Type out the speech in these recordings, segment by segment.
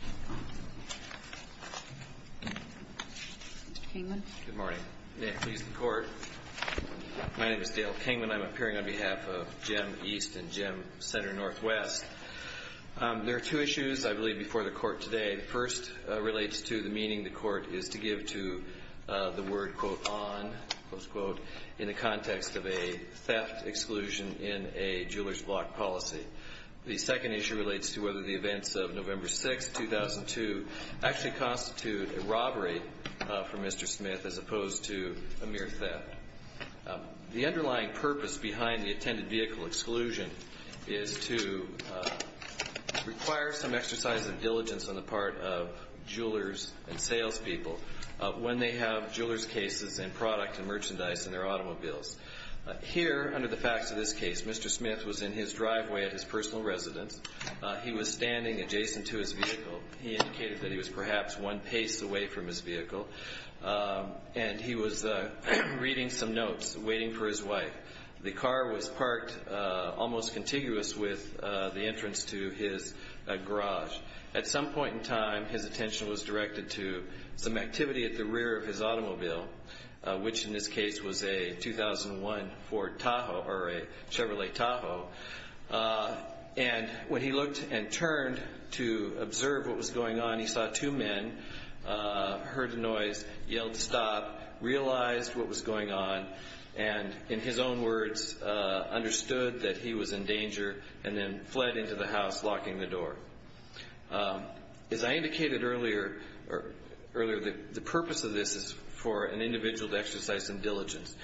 Mr. Kingman. Good morning. May it please the Court, my name is Dale Kingman. I'm appearing on behalf of GEM East and GEM Center Northwest. There are two issues, I believe, before the Court today. The first relates to the meaning the Court is to give to the word, quote, on, close quote, in the context of a theft exclusion in a jeweler's block policy. The second issue relates to whether the events of November 6, 2002, actually constitute a robbery for Mr. Smith as opposed to a mere theft. The underlying purpose behind the attended vehicle exclusion is to require some exercise of diligence on the part of jewelers and salespeople when they have jeweler's cases and product and merchandise in their automobiles. Here, under the facts of this case, Mr. Smith was in his driveway at his personal residence. He was standing adjacent to his vehicle. He indicated that he was perhaps one pace away from his vehicle and he was reading some notes, waiting for his wife. The car was parked almost contiguous with the entrance to his garage. At some point in time, his attention was directed to some or a Chevrolet Tahoe. When he looked and turned to observe what was going on, he saw two men, heard a noise, yelled stop, realized what was going on, and in his own words, understood that he was in danger, and then fled into the house, locking the door. As I indicated earlier, the purpose of this is for an individual to exercise some diligence.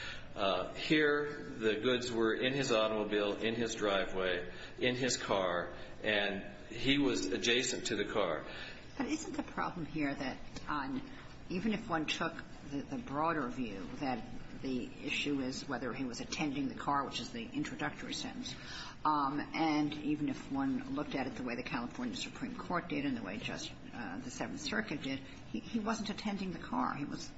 Here, the goods were in his automobile, in his driveway, in his car, and he was adjacent to the car. But isn't the problem here that even if one took the broader view that the issue is whether he was attending the car, which is the introductory sentence, and even if one looked at it the way the California Supreme Court did and the way just the Seventh Circuit did, he wasn't attending the car. He was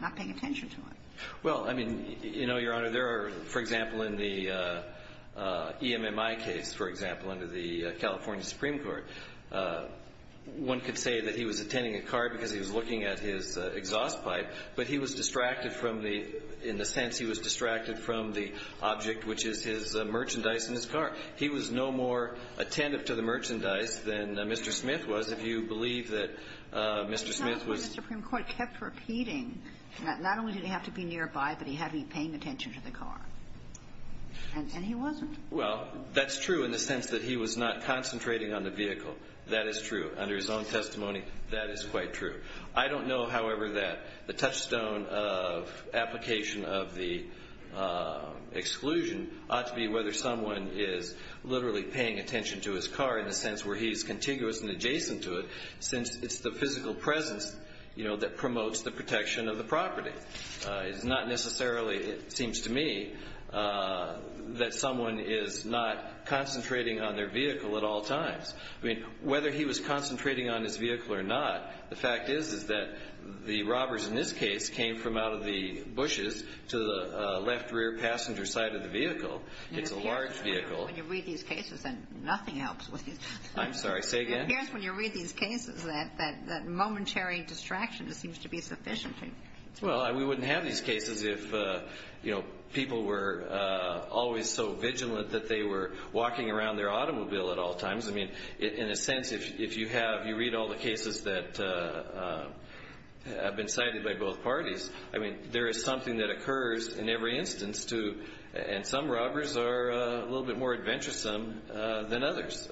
not paying attention to it. Well, I mean, you know, Your Honor, there are, for example, in the EMMI case, for example, under the California Supreme Court, one could say that he was attending a car because he was looking at his exhaust pipe, but he was distracted from the – in the sense he was distracted from the object, which is his merchandise in his car. He was no more attentive to the merchandise than Mr. Smith was. If you believe that Mr. Smith was – not only did he have to be nearby, but he had to be paying attention to the car. And he wasn't. Well, that's true in the sense that he was not concentrating on the vehicle. That is true. Under his own testimony, that is quite true. I don't know, however, that the touchstone of application of the exclusion ought to be whether someone is literally paying attention to his car in the sense where he's contiguous and adjacent to it, since it's the physical presence, you know, that promotes the protection of the property. It's not necessarily, it seems to me, that someone is not concentrating on their vehicle at all times. I mean, whether he was concentrating on his vehicle or not, the fact is, is that the robbers in this case came from out of the bushes to the left rear passenger side of the vehicle. It's a large vehicle. When you read these cases, then nothing helps with these cases. I'm sorry, say again? It appears when you read these cases that momentary distraction seems to be sufficient. Well, we wouldn't have these cases if, you know, people were always so vigilant that they were walking around their automobile at all times. I mean, in a sense, if you have, you read all the cases that have been cited by both parties, I mean, there is something that occurs in every instance to, and some robbers are a little bit more adventuresome than others.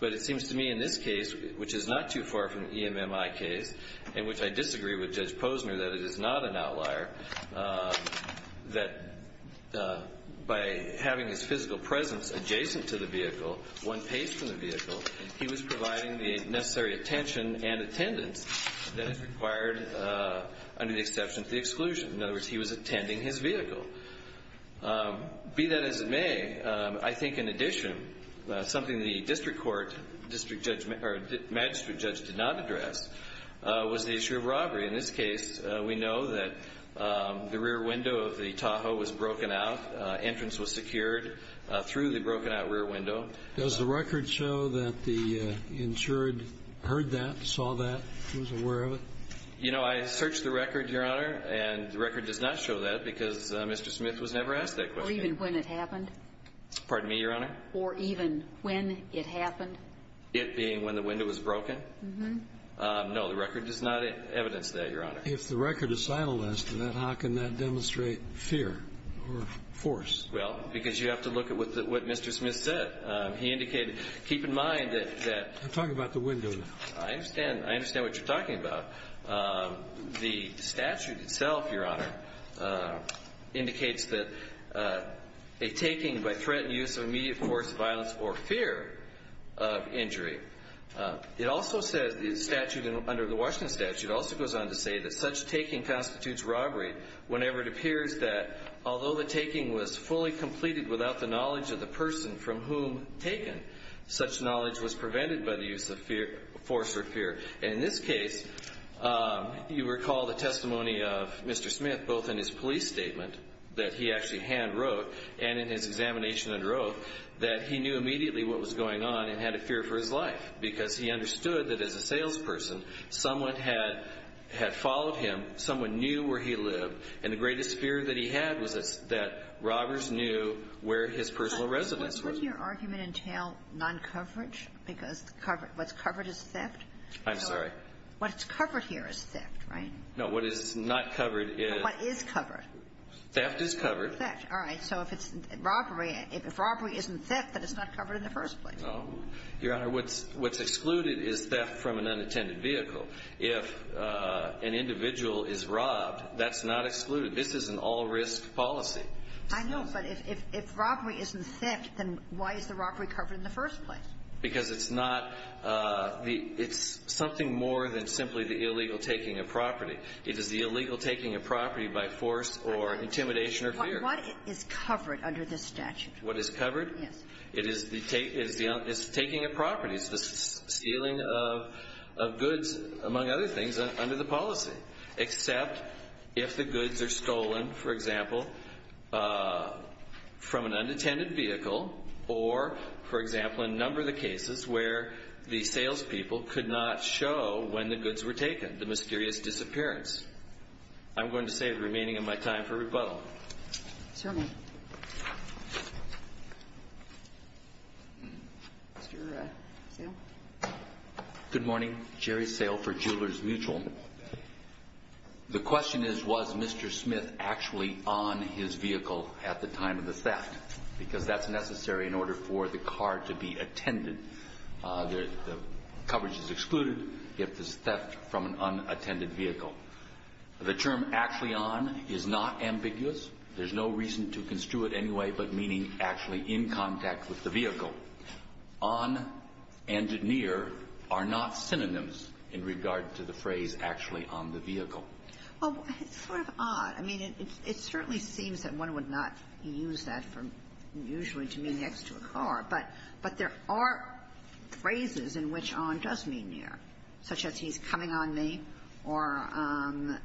But it seems to me in this case, which is not too far from the EMMI case, in which I disagree with Judge Posner that it is not an outlier, that by having his physical presence adjacent to the vehicle, one pays for the vehicle, he was providing the necessary attention and attendance that is required under the exception of the exclusion. In other words, he was attending his vehicle. Be that as it may, I think in addition, something the district court, district judge, or magistrate judge did not address was the issue of robbery. In this case, we know that the rear window of the Tahoe was broken out. Entrance was secured through the broken out rear window. Does the record show that the insured heard that, saw that, was aware of it? You know, I searched the record, Your Honor, and the record does not show that because Mr. Smith was never asked that question. Or even when it happened? Pardon me, Your Honor? Or even when it happened? It being when the window was broken? Mm-hmm. No, the record does not evidence that, Your Honor. If the record is silenced, then how can that demonstrate fear or force? Well, because you have to look at what Mr. Smith said. He indicated, keep in mind that that... I'm talking about the window there. I understand what you're talking about. The statute itself, Your Honor, indicates that a taking by threat and use of immediate force, violence, or fear of injury. It also says, under the Washington statute, it also goes on to say that such taking constitutes robbery whenever it appears that although the taking was fully completed without the knowledge of the person from whom taken, such knowledge was prevented by the use of force or fear. And in this case, you recall the testimony of Mr. Smith, both in his police statement that he actually hand wrote and in his examination under oath, that he knew immediately what was going on and had a fear for his life because he understood that as a salesperson, someone had followed him, someone knew where he lived, and the greatest fear that he had was that he would not know where his personal residence was. But wouldn't your argument entail non-coverage? Because what's covered is theft? I'm sorry? What's covered here is theft, right? No. What is not covered is... What is covered? Theft is covered. Theft. All right. So if it's robbery, if robbery isn't theft, then it's not covered in the first place. No. Your Honor, what's excluded is theft from an unattended vehicle. If an individual is robbed, that's not excluded. This is an all-risk policy. I know, but if robbery isn't theft, then why is the robbery covered in the first place? Because it's not the – it's something more than simply the illegal taking of property. It is the illegal taking of property by force or intimidation or fear. What is covered under this statute? What is covered? Yes. It is the taking of property. It's the stealing of goods, among other things, under the policy, except if the goods are stolen, for example, from an unattended vehicle or, for example, a number of the cases where the salespeople could not show when the goods were taken, the mysterious disappearance. I'm going to save the remaining of my time for rebuttal. Certainly. Mr. Sale? Good morning. Jerry Sale for Jewelers Mutual. The question is, was Mr. Smith actually on his vehicle at the time of the theft? Because that's necessary in order for the car to be attended. The coverage is excluded if it's theft from an unattended vehicle. The term actually on is not ambiguous. There's no reason to construe it anyway but meaning actually in contact with the vehicle. On and near are not synonyms in regard to the phrase actually on the vehicle. Well, it's sort of odd. I mean, it certainly seems that one would not use that for usually to mean next to a car, but there are phrases in which on does mean near, such as he's coming on me or I'm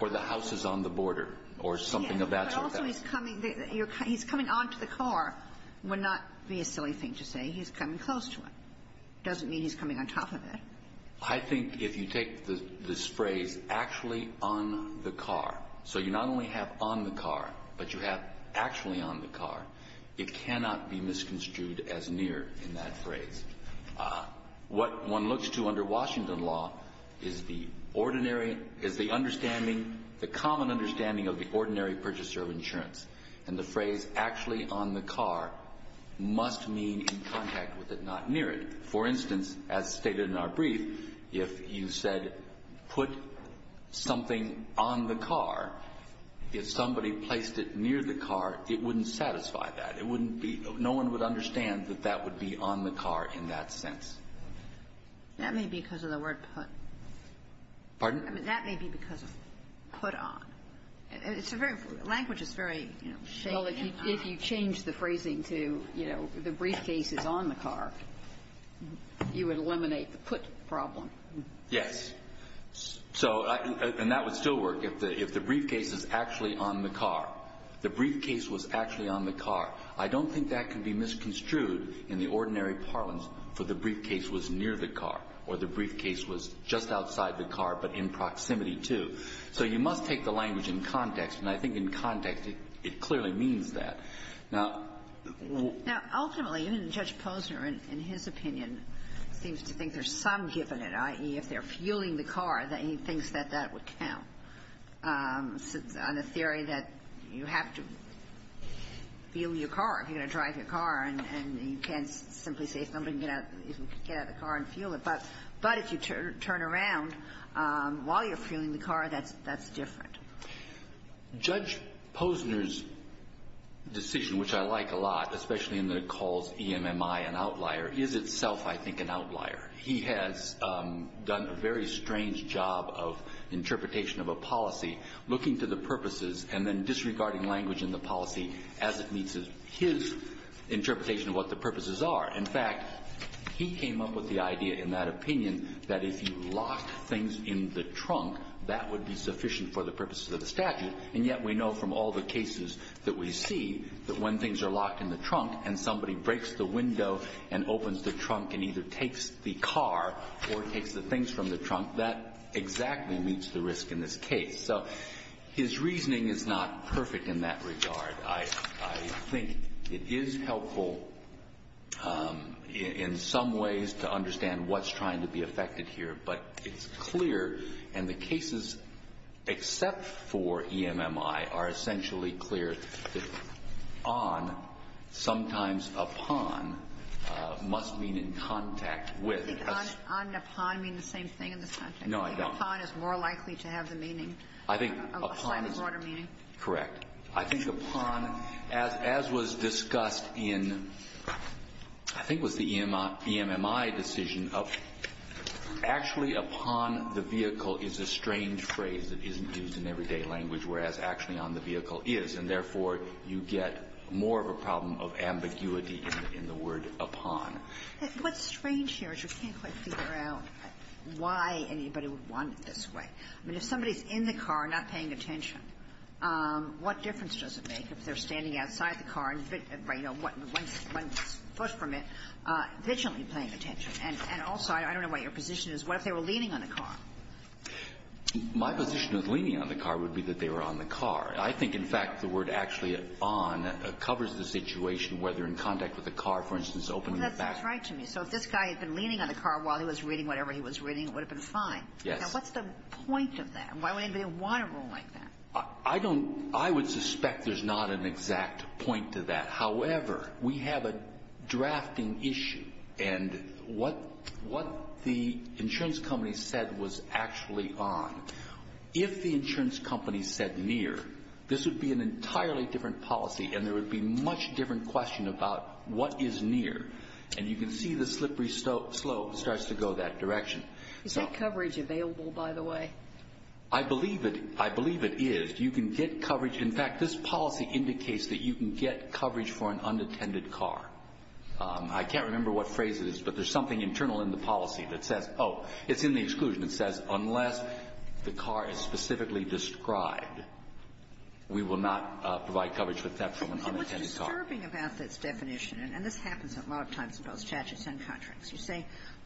or the house is on the border or something of that sort. Also, he's coming on to the car would not be a silly thing to say. He's coming close to it. It doesn't mean he's coming on top of it. I think if you take this phrase actually on the car, so you not only have on the car, but you have actually on the car, it cannot be misconstrued as near in that phrase. What one looks to under Washington law is the ordinary, is the understanding, the common understanding of the ordinary purchaser of insurance. And the phrase actually on the car must mean in contact with it, not near it. For instance, as stated in our brief, if you said put something on the car, if somebody placed it near the car, it wouldn't satisfy that. It wouldn't be no one would understand that that would be on the car in that sense. That may be because of the word put. Pardon? I mean, that may be because of put on. It's a very, language is very, you know, shaped. Well, if you change the phrasing to, you know, the briefcase is on the car, you would eliminate the put problem. Yes. So, and that would still work if the briefcase is actually on the car. The briefcase was actually on the car. I don't think that can be misconstrued in the ordinary parlance for the briefcase was near the car, or the briefcase was just outside the car but in proximity to. So you must take the language in context. And I think in context, it clearly means that. Now, ultimately, even Judge Posner, in his opinion, seems to think there's some give in it, i.e., if they're fueling the car, that he thinks that that would count on a theory that you have to fuel your car if you're going to drive your car, and you can't simply say if somebody can get out of the car and fuel it. But if you turn around while you're fueling the car, that's different. Judge Posner's decision, which I like a lot, especially in the calls, E-M-M-I, an outlier, is itself, I think, an outlier. He has done a very strange job of interpretation of a policy, looking to the purposes and then disregarding language in the policy as it meets his interpretation of what the purposes are. In fact, he came up with the idea in that opinion that if you lock things in the trunk, that would be sufficient for the purposes of the statute. And yet we know from all the cases that we see that when things are locked in the trunk and somebody breaks the window and opens the trunk and either takes the car or takes the things from the trunk, that exactly meets the risk in this case. So his reasoning is not perfect in that regard. I think it is helpful in some ways to understand what's trying to be affected here, but it's clear, and the cases except for E-M-M-I are essentially clear, that on, sometimes upon, must mean in contact with. I think on and upon mean the same thing in this context. No, I don't. Upon is more likely to have the meaning. I think upon is. A slightly broader meaning. Correct. I think upon, as was discussed in, I think it was the E-M-M-I decision, actually upon the vehicle is a strange phrase that isn't used in everyday language, whereas actually on the vehicle is. And therefore, you get more of a problem of ambiguity in the word upon. What's strange here is you can't quite figure out why anybody would want it this way. I mean, if somebody's in the car not paying attention, what difference does it make if they're standing outside the car and, you know, one foot from it, visually paying attention? And also, I don't know what your position is, what if they were leaning on the car? My position of leaning on the car would be that they were on the car. I think, in fact, the word actually on covers the situation where they're in contact with the car, for instance, opening the back. That seems right to me. So if this guy had been leaning on the car while he was reading whatever he was reading, it would have been fine. Yes. Now, what's the point of that? Why would anybody want a rule like that? I don't – I would suspect there's not an exact point to that. However, we have a drafting issue. And what the insurance company said was actually on. If the insurance company said near, this would be an entirely different policy, and there would be a much different question about what is near. And you can see the slippery slope starts to go that direction. Is that coverage available, by the way? I believe it is. You can get coverage – in fact, this policy indicates that you can get coverage for an unattended car. I can't remember what phrase it is, but there's something internal in the policy that says – oh, it's in the exclusion. It says unless the car is specifically described, we will not provide coverage with that from an unattended car. It was disturbing about this definition, and this happens a lot of times in both statutes and contracts. You say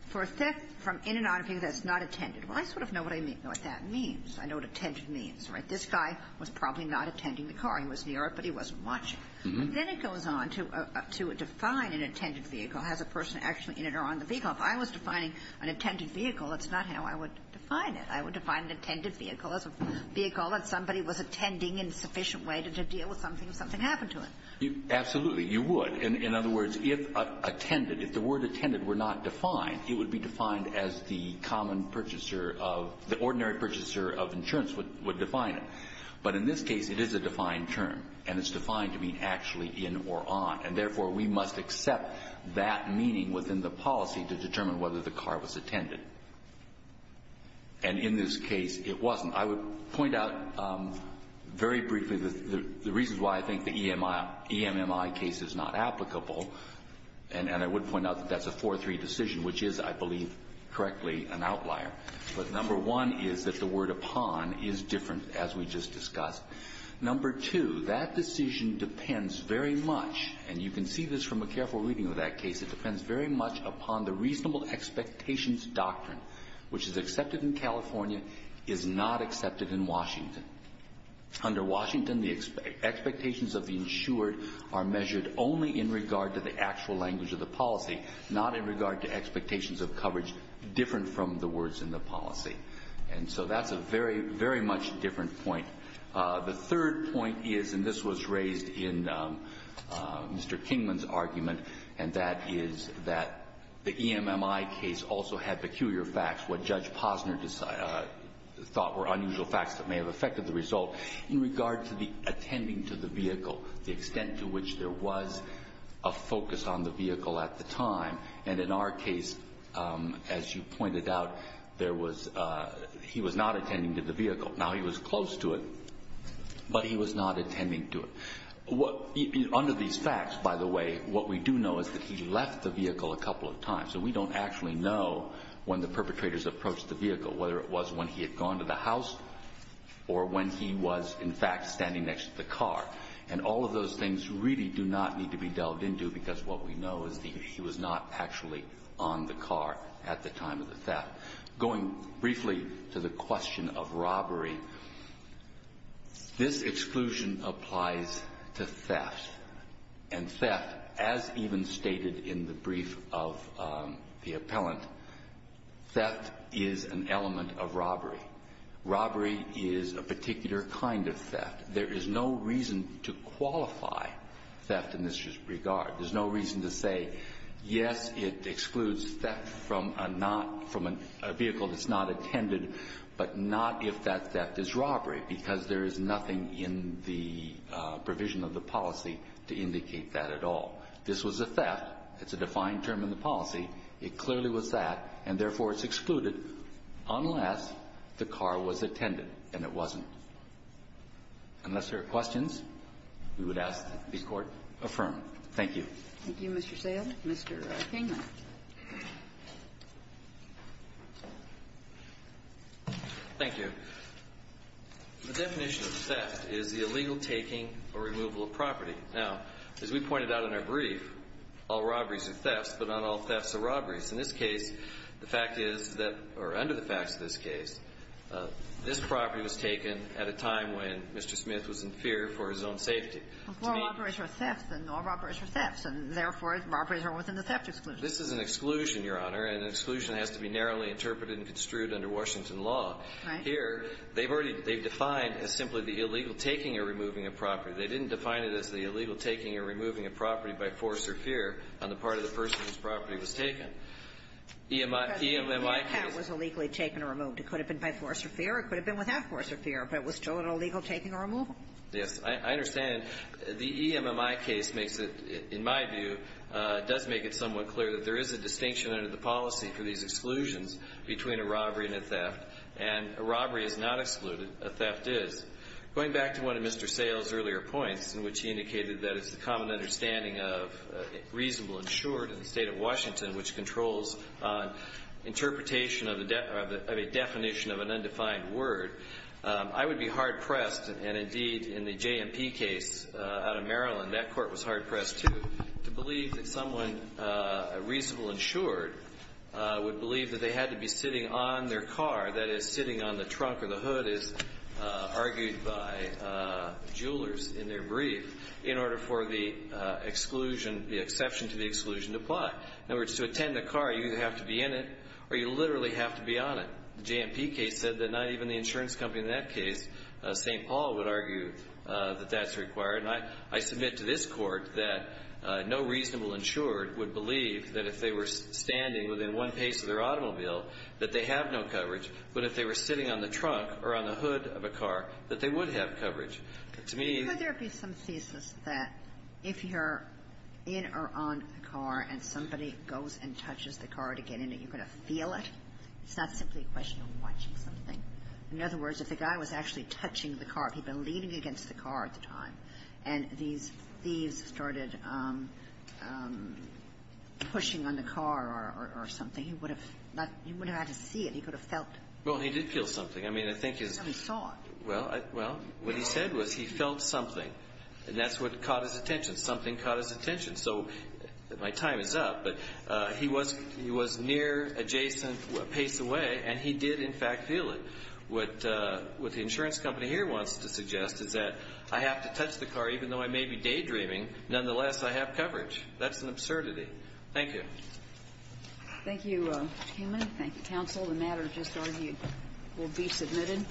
for – from in and out of view, that's not attended. Well, I sort of know what I mean – what that means. I know what attended means, right? This guy was probably not attending the car. He was near it, but he wasn't watching. Then it goes on to define an attended vehicle as a person actually in or on the vehicle. If I was defining an attended vehicle, that's not how I would define it. I would define an attended vehicle as a vehicle that somebody was attending in a sufficient way to deal with something if something happened to it. Absolutely. You would. In other words, if attended – if the word attended were not defined, it would be defined as the common purchaser of – the ordinary purchaser of insurance would define it. But in this case, it is a defined term, and it's defined to mean actually in or on. And therefore, we must accept that meaning within the policy to determine whether the car was attended. And in this case, it wasn't. I would point out very briefly the reasons why I think the E-M-M-I case is not applicable, and I would point out that that's a 4-3 decision, which is, I believe correctly, an outlier. But number one is that the word upon is different, as we just discussed. Number two, that decision depends very much – and you can see this from a careful reading of that case – it depends very much upon the reasonable expectations doctrine, which is accepted in California, is not accepted in Washington. Under Washington, the expectations of the insured are measured only in regard to the actual language of the policy, not in regard to expectations of coverage different from the words in the policy. And so that's a very, very much different point. The third point is – and this was raised in Mr. Kingman's argument – and that is that the E-M-M-I case also had peculiar facts, what Judge Posner thought were unusual facts that may have affected the result, in regard to the attending to the vehicle, the extent to which there was a focus on the vehicle at the time. And in our case, as you pointed out, there was – he was not attending to the vehicle. Now, he was close to it, but he was not attending to it. Under these facts, by the way, what we do know is that he left the vehicle a couple of times. So we don't actually know when the perpetrators approached the vehicle, whether it was when he had gone to the house or when he was, in fact, standing next to the car. And all of those things really do not need to be delved into, because what we know is that he was not actually on the car at the time of the theft. Going briefly to the question of robbery, this exclusion applies to theft. And theft, as even stated in the brief of the appellant, theft is an element of robbery. Robbery is a particular kind of theft. There is no reason to qualify theft in this regard. There's no reason to say, yes, it excludes theft from a not – from a vehicle that's not attended, but not if that theft is robbery, because there is nothing in the provision of the policy to indicate that at all. This was a theft. It's a defined term in the policy. It clearly was that, and therefore, it's excluded unless the car was attended, and it wasn't. Unless there are questions, we would ask that the Court affirm. Thank you. Thank you, Mr. Sayle. Mr. King. Thank you. The definition of theft is the illegal taking or removal of property. Now, as we pointed out in our brief, all robberies are thefts, but not all thefts are robberies. In this case, the fact is that – or under the facts of this case, this property was taken at a time when Mr. Smith was in fear for his own safety. Well, all robberies are thefts, and all robberies are thefts, and therefore, robberies are within the theft exclusion. This is an exclusion, Your Honor, and an exclusion has to be narrowly interpreted and construed under Washington law. Right. Here, they've already – they've defined as simply the illegal taking or removing of property. They didn't define it as the illegal taking or removing of property by force or fear on the part of the person whose property was taken. EMMI is – Because the cat was illegally taken or removed. It could have been by force or fear, or it could have been without force or fear, but it was still an illegal taking or removal. Yes. I understand. The EMMI case makes it – in my view, does make it somewhat clear that there is a distinction under the policy for these exclusions between a robbery and a theft, and a robbery is not excluded. A theft is. Going back to one of Mr. Sale's earlier points, in which he indicated that it's the common understanding of reasonable and short in the State of Washington, which controls interpretation of a definition of an undefined word, I would be hard pressed, indeed, in the JMP case out of Maryland, that court was hard pressed, too, to believe that someone reasonable and short would believe that they had to be sitting on their car, that is, sitting on the trunk or the hood, as argued by jewelers in their brief, in order for the exclusion – the exception to the exclusion to apply. In other words, to attend a car, you either have to be in it or you literally have to be on it. The JMP case said that not even the insurance company in that case, St. Paul, would argue that that's required, and I submit to this Court that no reasonable and short would believe that if they were standing within one pace of their automobile that they have no coverage, but if they were sitting on the trunk or on the hood of a car, that they would have coverage. To me – Could there be some thesis that if you're in or on a car and somebody goes and touches the car to get in it, you're going to feel it? It's not simply a question of watching something. In other words, if the guy was actually touching the car, if he'd been leaning against the car at the time, and these thieves started pushing on the car or something, he would have – you would have had to see it. He could have felt it. Well, he did feel something. I mean, I think his – He saw it. Well, what he said was he felt something, and that's what caught his attention. Something caught his attention. So my time is up, but he was near, adjacent, a pace away, and he did in fact feel it. What the insurance company here wants to suggest is that I have to touch the car even though I may be daydreaming. Nonetheless, I have coverage. That's an absurdity. Thank you. Thank you, Mr. Kamen. Thank you, counsel. The matter just argued will be submitted.